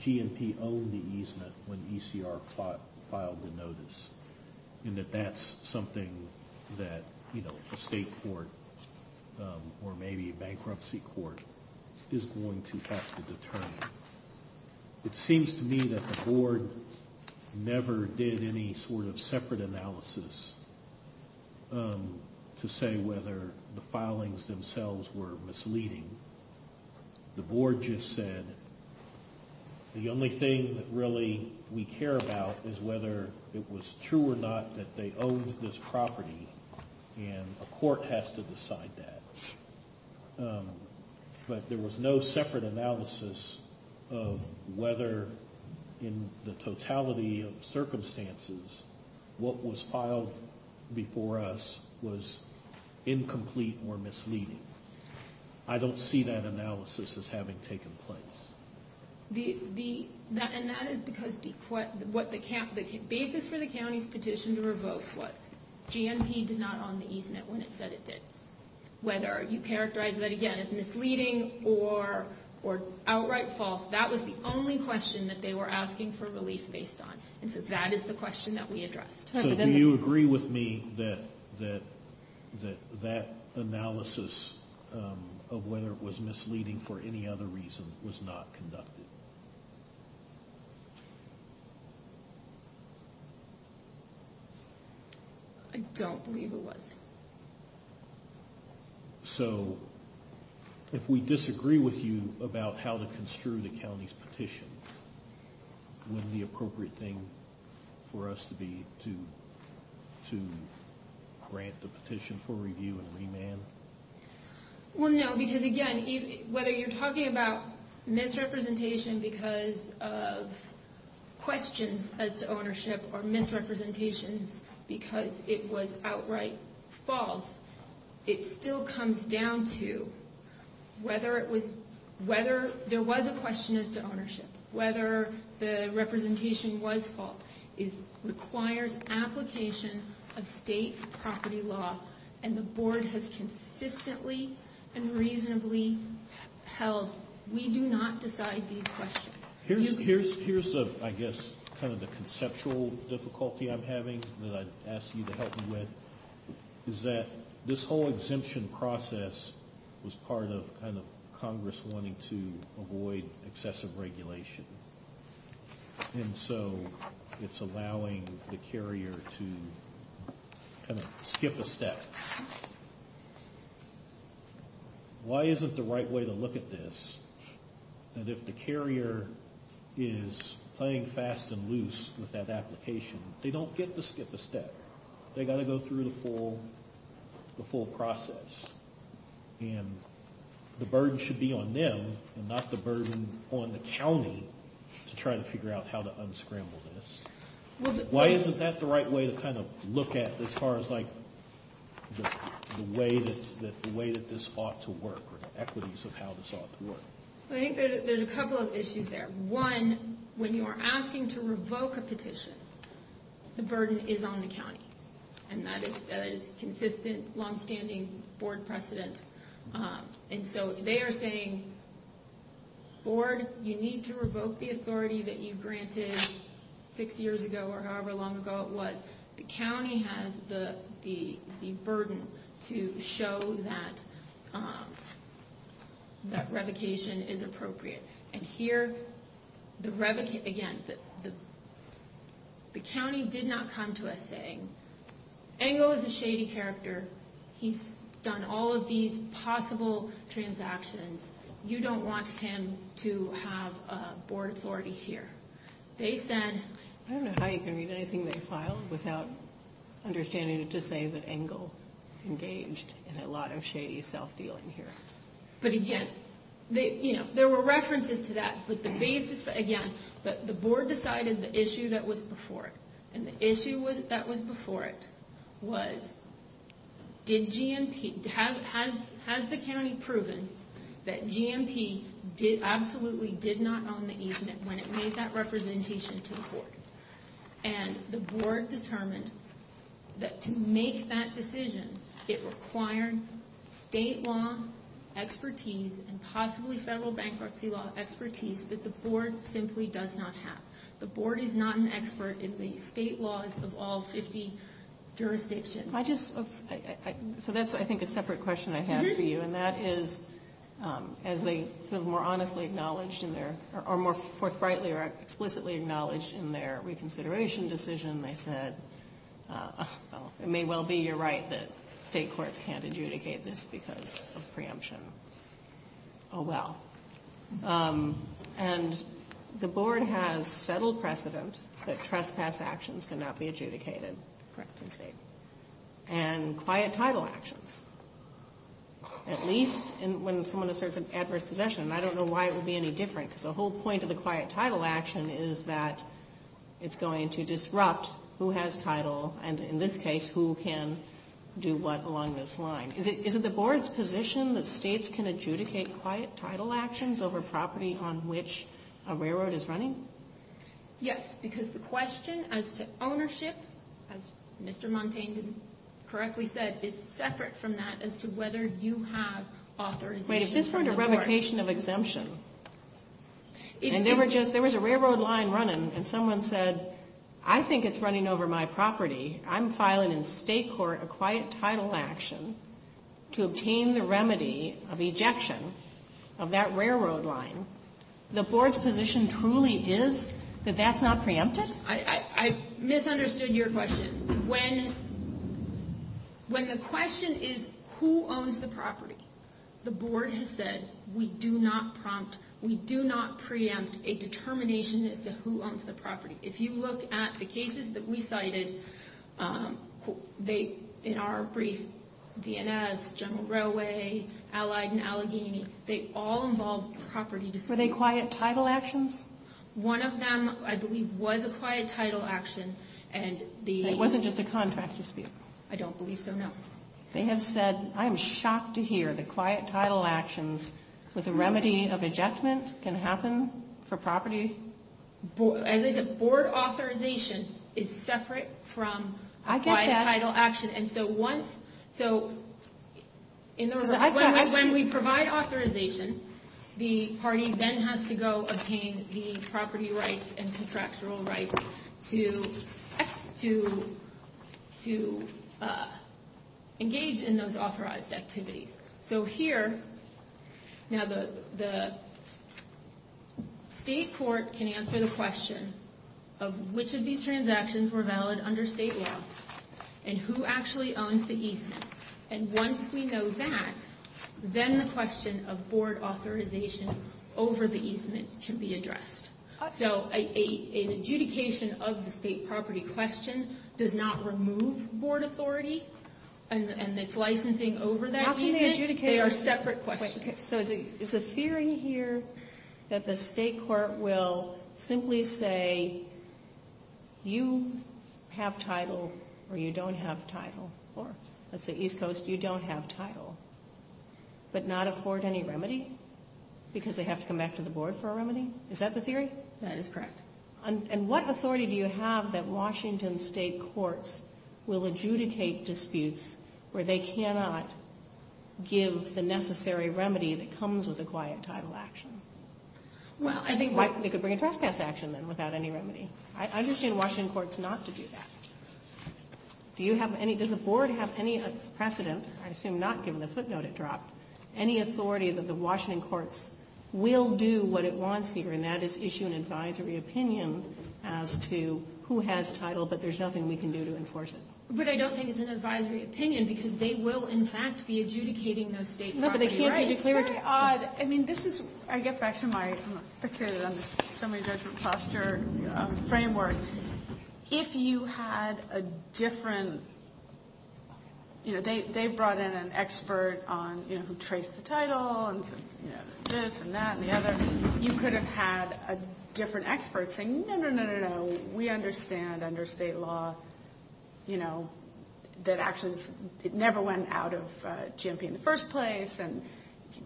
GNP owned the easement when ECR filed the notice. And that that's something that a state court or maybe a bankruptcy court is going to have to determine. It seems to me that the board never did any sort of separate analysis to say whether the filings themselves were misleading. The board just said the only thing that really we care about is whether it was true or not that they owned this property and a court has to decide that. But there was no separate analysis of whether in the totality of circumstances what was filed before us was incomplete or misleading. I don't see that analysis as having taken place. And that is because the basis for the county's petition to revoke was GNP did not own the easement when it said it did. Whether you characterize that again as misleading or outright false, that was the only question that they were asking for relief based on. And so that is the question that we addressed. So do you agree with me that that that analysis of whether it was misleading for any other reason was not conducted? I don't believe it was. So if we disagree with you about how to construe the county's petition, wouldn't the appropriate thing for us to be to grant the petition for review and remand? Well, no, because again, whether you're talking about misrepresentation because of questions as to ownership or misrepresentations because it was outright false, it still comes down to whether there was a question as to ownership, whether the representation was false. It requires application of state property law, and the board has consistently and reasonably held we do not decide these questions. Here's the, I guess, kind of the conceptual difficulty I'm having that I'd ask you to help me with, is that this whole exemption process was part of Congress wanting to avoid excessive regulation. And so it's allowing the carrier to kind of skip a step. Why isn't the right way to look at this, that if the carrier is playing fast and loose with that application, they don't get to skip a step? They've got to go through the full process. And the burden should be on them and not the burden on the county to try to figure out how to unscramble this. Why isn't that the right way to kind of look at as far as like the way that this ought to work or the equities of how this ought to work? I think there's a couple of issues there. One, when you are asking to revoke a petition, the burden is on the county. And that is consistent, longstanding board precedent. And so they are saying, board, you need to revoke the authority that you granted six years ago or however long ago it was. The county has the burden to show that that revocation is appropriate. And here, again, the county did not come to us saying, Engle is a shady character. He's done all of these possible transactions. You don't want him to have a board authority here. They said... I don't know how you can read anything they filed without understanding it to say that Engle engaged in a lot of shady self-dealing here. But again, there were references to that. But the board decided the issue that was before it. And the issue that was before it was, has the county proven that GMP absolutely did not own the easement when it made that representation to the court? And the board determined that to make that decision, it required state law expertise and possibly federal bankruptcy law expertise that the board simply does not have. The board is not an expert in the state laws of all 50 jurisdictions. Am I just... So that's, I think, a separate question I have for you. And that is, as they sort of more honestly acknowledged in their... Or more forthrightly or explicitly acknowledged in their reconsideration decision, they said, well, it may well be your right that state courts can't adjudicate this because of preemption. Oh, well. And the board has settled precedent that trespass actions cannot be adjudicated. Correct. And quiet title actions. At least when someone asserts an adverse possession. And I don't know why it would be any different, because the whole point of the quiet title action is that it's going to disrupt who has title and, in this case, who can do what along this line. Is it the board's position that states can adjudicate quiet title actions over property on which a railroad is running? Yes, because the question as to ownership, as Mr. Montaigne correctly said, is separate from that as to whether you have authorization... Wait, if this were a revocation of exemption, and there was a railroad line running and someone said, I think it's running over my property, I'm filing in state court a quiet title action to obtain the remedy of ejection of that railroad line, the board's position truly is that that's not preempted? I misunderstood your question. When the question is who owns the property, the board has said, we do not prompt, we do not preempt a determination as to who owns the property. If you look at the cases that we cited, they, in our brief, DNS, General Railway, Allied and Allegheny, they all involved property disputes. Were they quiet title actions? One of them, I believe, was a quiet title action, and the... It wasn't just a contract dispute? I don't believe so, no. They have said, I am shocked to hear that quiet title actions with a remedy of ejectment can happen for property? As I said, board authorization is separate from quiet title action. I get that. And so once, so, in other words, when we provide authorization, the party then has to go obtain the property rights and contractual rights to engage in those authorized activities. So here, now the state court can answer the question of which of these transactions were valid under state law and who actually owns the easement. And once we know that, then the question of board authorization over the easement can be addressed. So an adjudication of the state property question does not remove board authority and its licensing over that easement? They are separate questions. So is the theory here that the state court will simply say, you have title or you don't have title, or let's say East Coast, you don't have title, but not afford any remedy? Because they have to come back to the board for a remedy? Is that the theory? That is correct. And what authority do you have that Washington state courts will adjudicate disputes where they cannot give the necessary remedy that comes with a quiet title action? Well, I think they could bring a trespass action then without any remedy. I understand Washington courts not to do that. Do you have any, does the board have any precedent, I assume not given the footnote it dropped, any authority that the Washington courts will do what it wants here, and that is issue an advisory opinion as to who has title, but there's nothing we can do to enforce it? But I don't think it's an advisory opinion because they will, in fact, be adjudicating those state property rights. No, but they can't be declaratory. I mean, this is, I get back to my, I'm fixated on this summary judgment posture framework. If you had a different, you know, they brought in an expert on, you know, who traced the title and this and that and the other. You could have had a different expert saying, no, no, no, no, no, we understand under state law, you know, that actions never went out of GMP in the first place. And,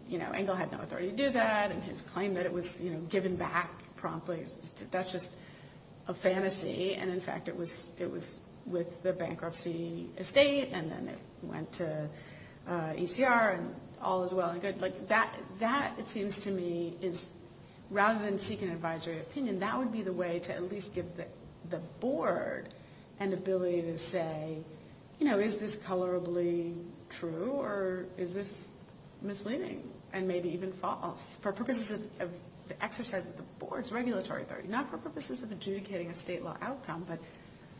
you know, Engel had no authority to do that and his claim that it was, you know, given back promptly, that's just a fantasy. And, in fact, it was with the bankruptcy estate and then it went to ECR and all is well and good. That, it seems to me, is rather than seek an advisory opinion, that would be the way to at least give the board an ability to say, you know, is this colorably true or is this misleading and maybe even false for purposes of the exercise of the board's regulatory authority. Not for purposes of adjudicating a state law outcome, but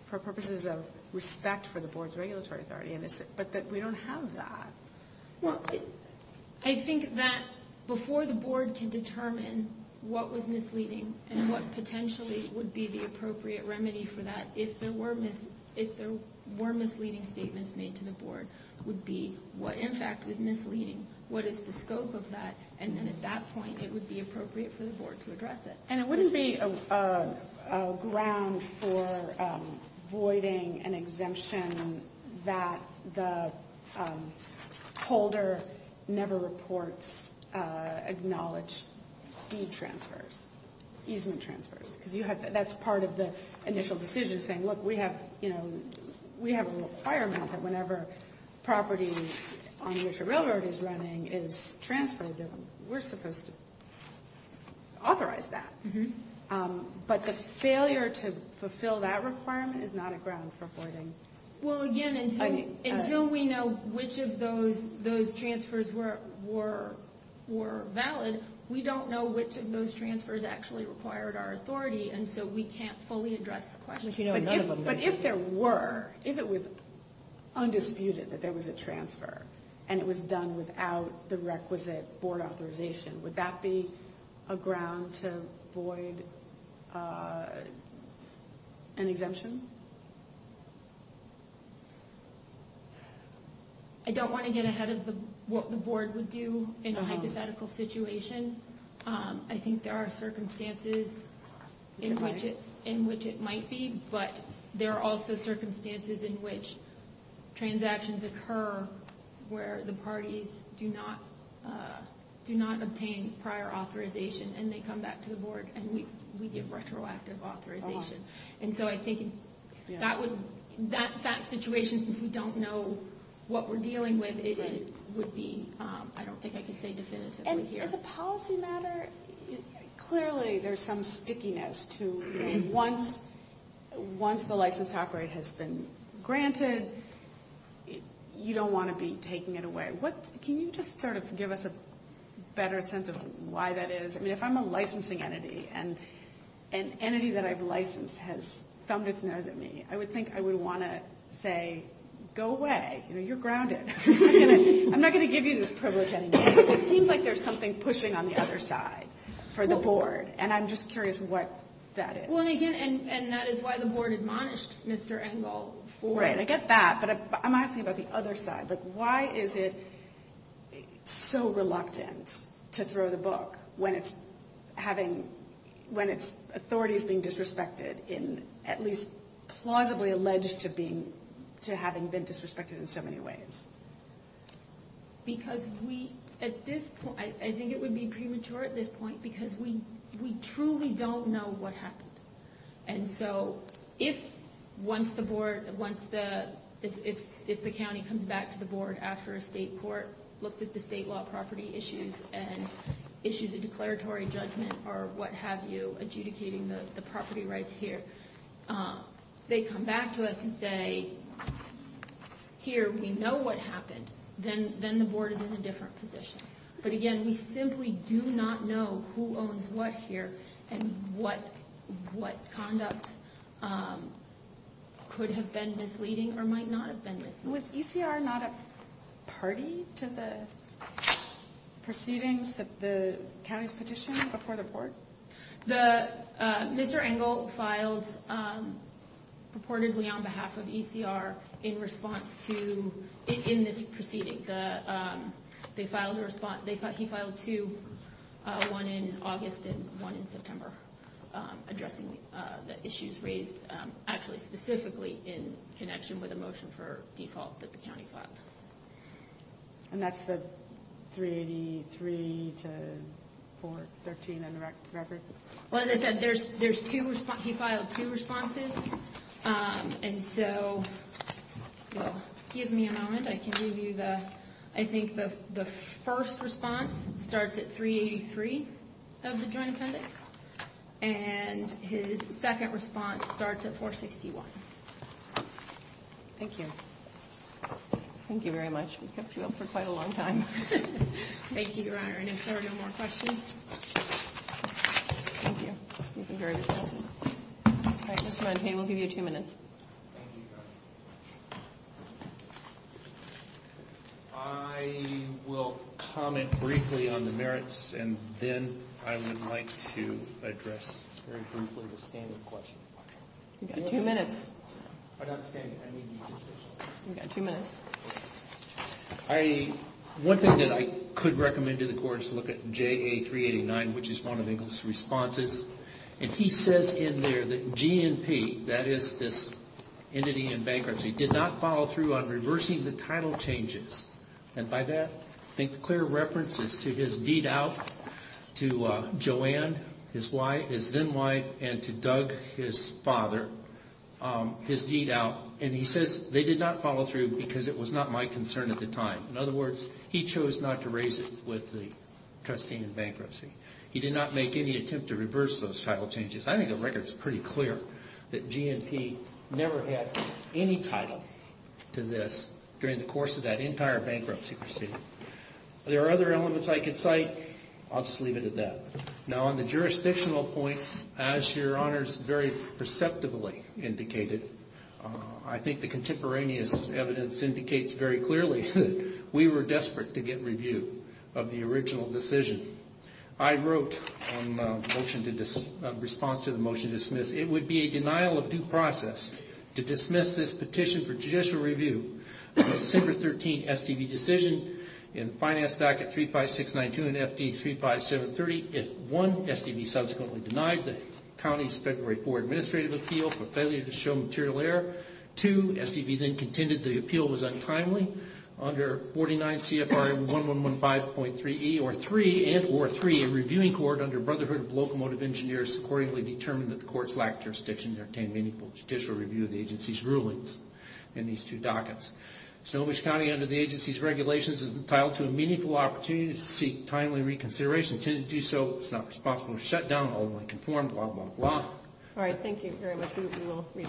for purposes of respect for the board's regulatory authority, but that we don't have that. Well, I think that before the board can determine what was misleading and what potentially would be the appropriate remedy for that, if there were misleading statements made to the board, would be what, in fact, is misleading, what is the scope of that, and then at that point, it would be appropriate for the board to address it. And it wouldn't be a ground for voiding an exemption that the holder never reports acknowledged deed transfers, easement transfers, because that's part of the initial decision saying, look, we have, you know, we have a requirement that whenever property on which a railroad is running is transferred, we're supposed to authorize that. But the failure to fulfill that requirement is not a ground for voiding. Well, again, until we know which of those transfers were valid, we don't know which of those transfers actually required our authority, and so we can't fully address the question. But if there were, if it was undisputed that there was a transfer, and it was done without the requisite board authorization, would that be a ground to voiding an exemption? I don't want to get ahead of what the board would do in a hypothetical situation. I think there are circumstances in which it might be, but there are also circumstances in which transactions occur where the parties do not, do not obtain prior authorization, and they come back to the board and say, look, we're not going to do that. We give retroactive authorization. And so I think that would, that fact situation, since we don't know what we're dealing with, it would be, I don't think I can say definitively here. And as a policy matter, clearly there's some stickiness to, once the license top rate has been granted, you don't want to be taking it away. Can you just sort of give us a better sense of why that is? I mean, if I'm a licensing entity, and an entity that I've licensed has thumbed its nose at me, I would think I would want to say, go away. You're grounded. I'm not going to give you this privilege anymore. It seems like there's something pushing on the other side for the board, and I'm just curious what that is. And that is why the board admonished Mr. Engel for it. Right, I get that, but I'm asking about the other side. Like, why is it so reluctant to throw the book when it's having, when its authority is being disrespected, in at least plausibly alleged to being, to having been disrespected in so many ways? Because we, at this point, I think it would be premature at this point, because we truly don't know what happened. And so if, once the board, once the board has been granted authorization, we can't do that. If the county comes back to the board after a state court, looks at the state law property issues, and issues a declaratory judgment, or what have you, adjudicating the property rights here, they come back to us and say, here, we know what happened. Then the board is in a different position. But again, we simply do not know who owns what here, and what conduct could have been misleading. Was ECR not a party to the proceedings that the county's petitioned before the board? The, Mr. Engel filed purportedly on behalf of ECR in response to, in this proceeding. They filed a response, he filed two, one in August and one in September, addressing the issues raised, actually specifically in connection with the ECR. And that's the 383 to 413 on the record? Well, as I said, there's two, he filed two responses. And so, well, give me a moment, I can give you the, I think the first response starts at 383 of the Joint Appendix. And his second response starts at 461. Thank you. Thank you very much. We've kept you up for quite a long time. Thank you, Your Honor. Any further questions? All right, Mr. Montague, we'll give you two minutes. I will comment briefly on the merits, and then I would like to address very briefly the standard question. You've got two minutes. One thing that I could recommend to the Court is to look at JA389, which is one of Engel's responses. And he says in there that G&P, that is this entity in bankruptcy, did not follow through on reversing the title changes. And by that, I think the clear reference is to his deed out to Joanne, his then wife, and to Doug, his now wife. And he says they did not follow through because it was not my concern at the time. In other words, he chose not to raise it with the trustee in bankruptcy. He did not make any attempt to reverse those title changes. I think the record is pretty clear that G&P never had any title to this during the course of that entire bankruptcy proceeding. There are other elements I could cite. I'll just leave it at that. Now, on the jurisdictional point, as Your Honor's very perceptively indicated, I think the contemporaneous evidence indicates very clearly that we were desperate to get review of the original decision. I wrote in response to the motion to dismiss, it would be a denial of due process to dismiss this petition for judicial review of the SIPR 13 STV decision. In the finance docket 35692 and FD 35730, if one, STV subsequently denied the county's February 4th administrative appeal for failure to show material error, two, STV then contended the appeal was untimely, under 49 CFR 1115.3e, or three, and or three, a reviewing court under Brotherhood of Locomotive Engineers accordingly determined that the court's lack of jurisdiction to obtain meaningful judicial review of the agency's rulings in these two dockets. Snohomish County, under the agency's regulations, is entitled to a meaningful opportunity to seek timely reconsideration. To do so, it's not responsible to shut down, ultimately conform, blah, blah, blah. All right. Thank you very much. We will read that docket.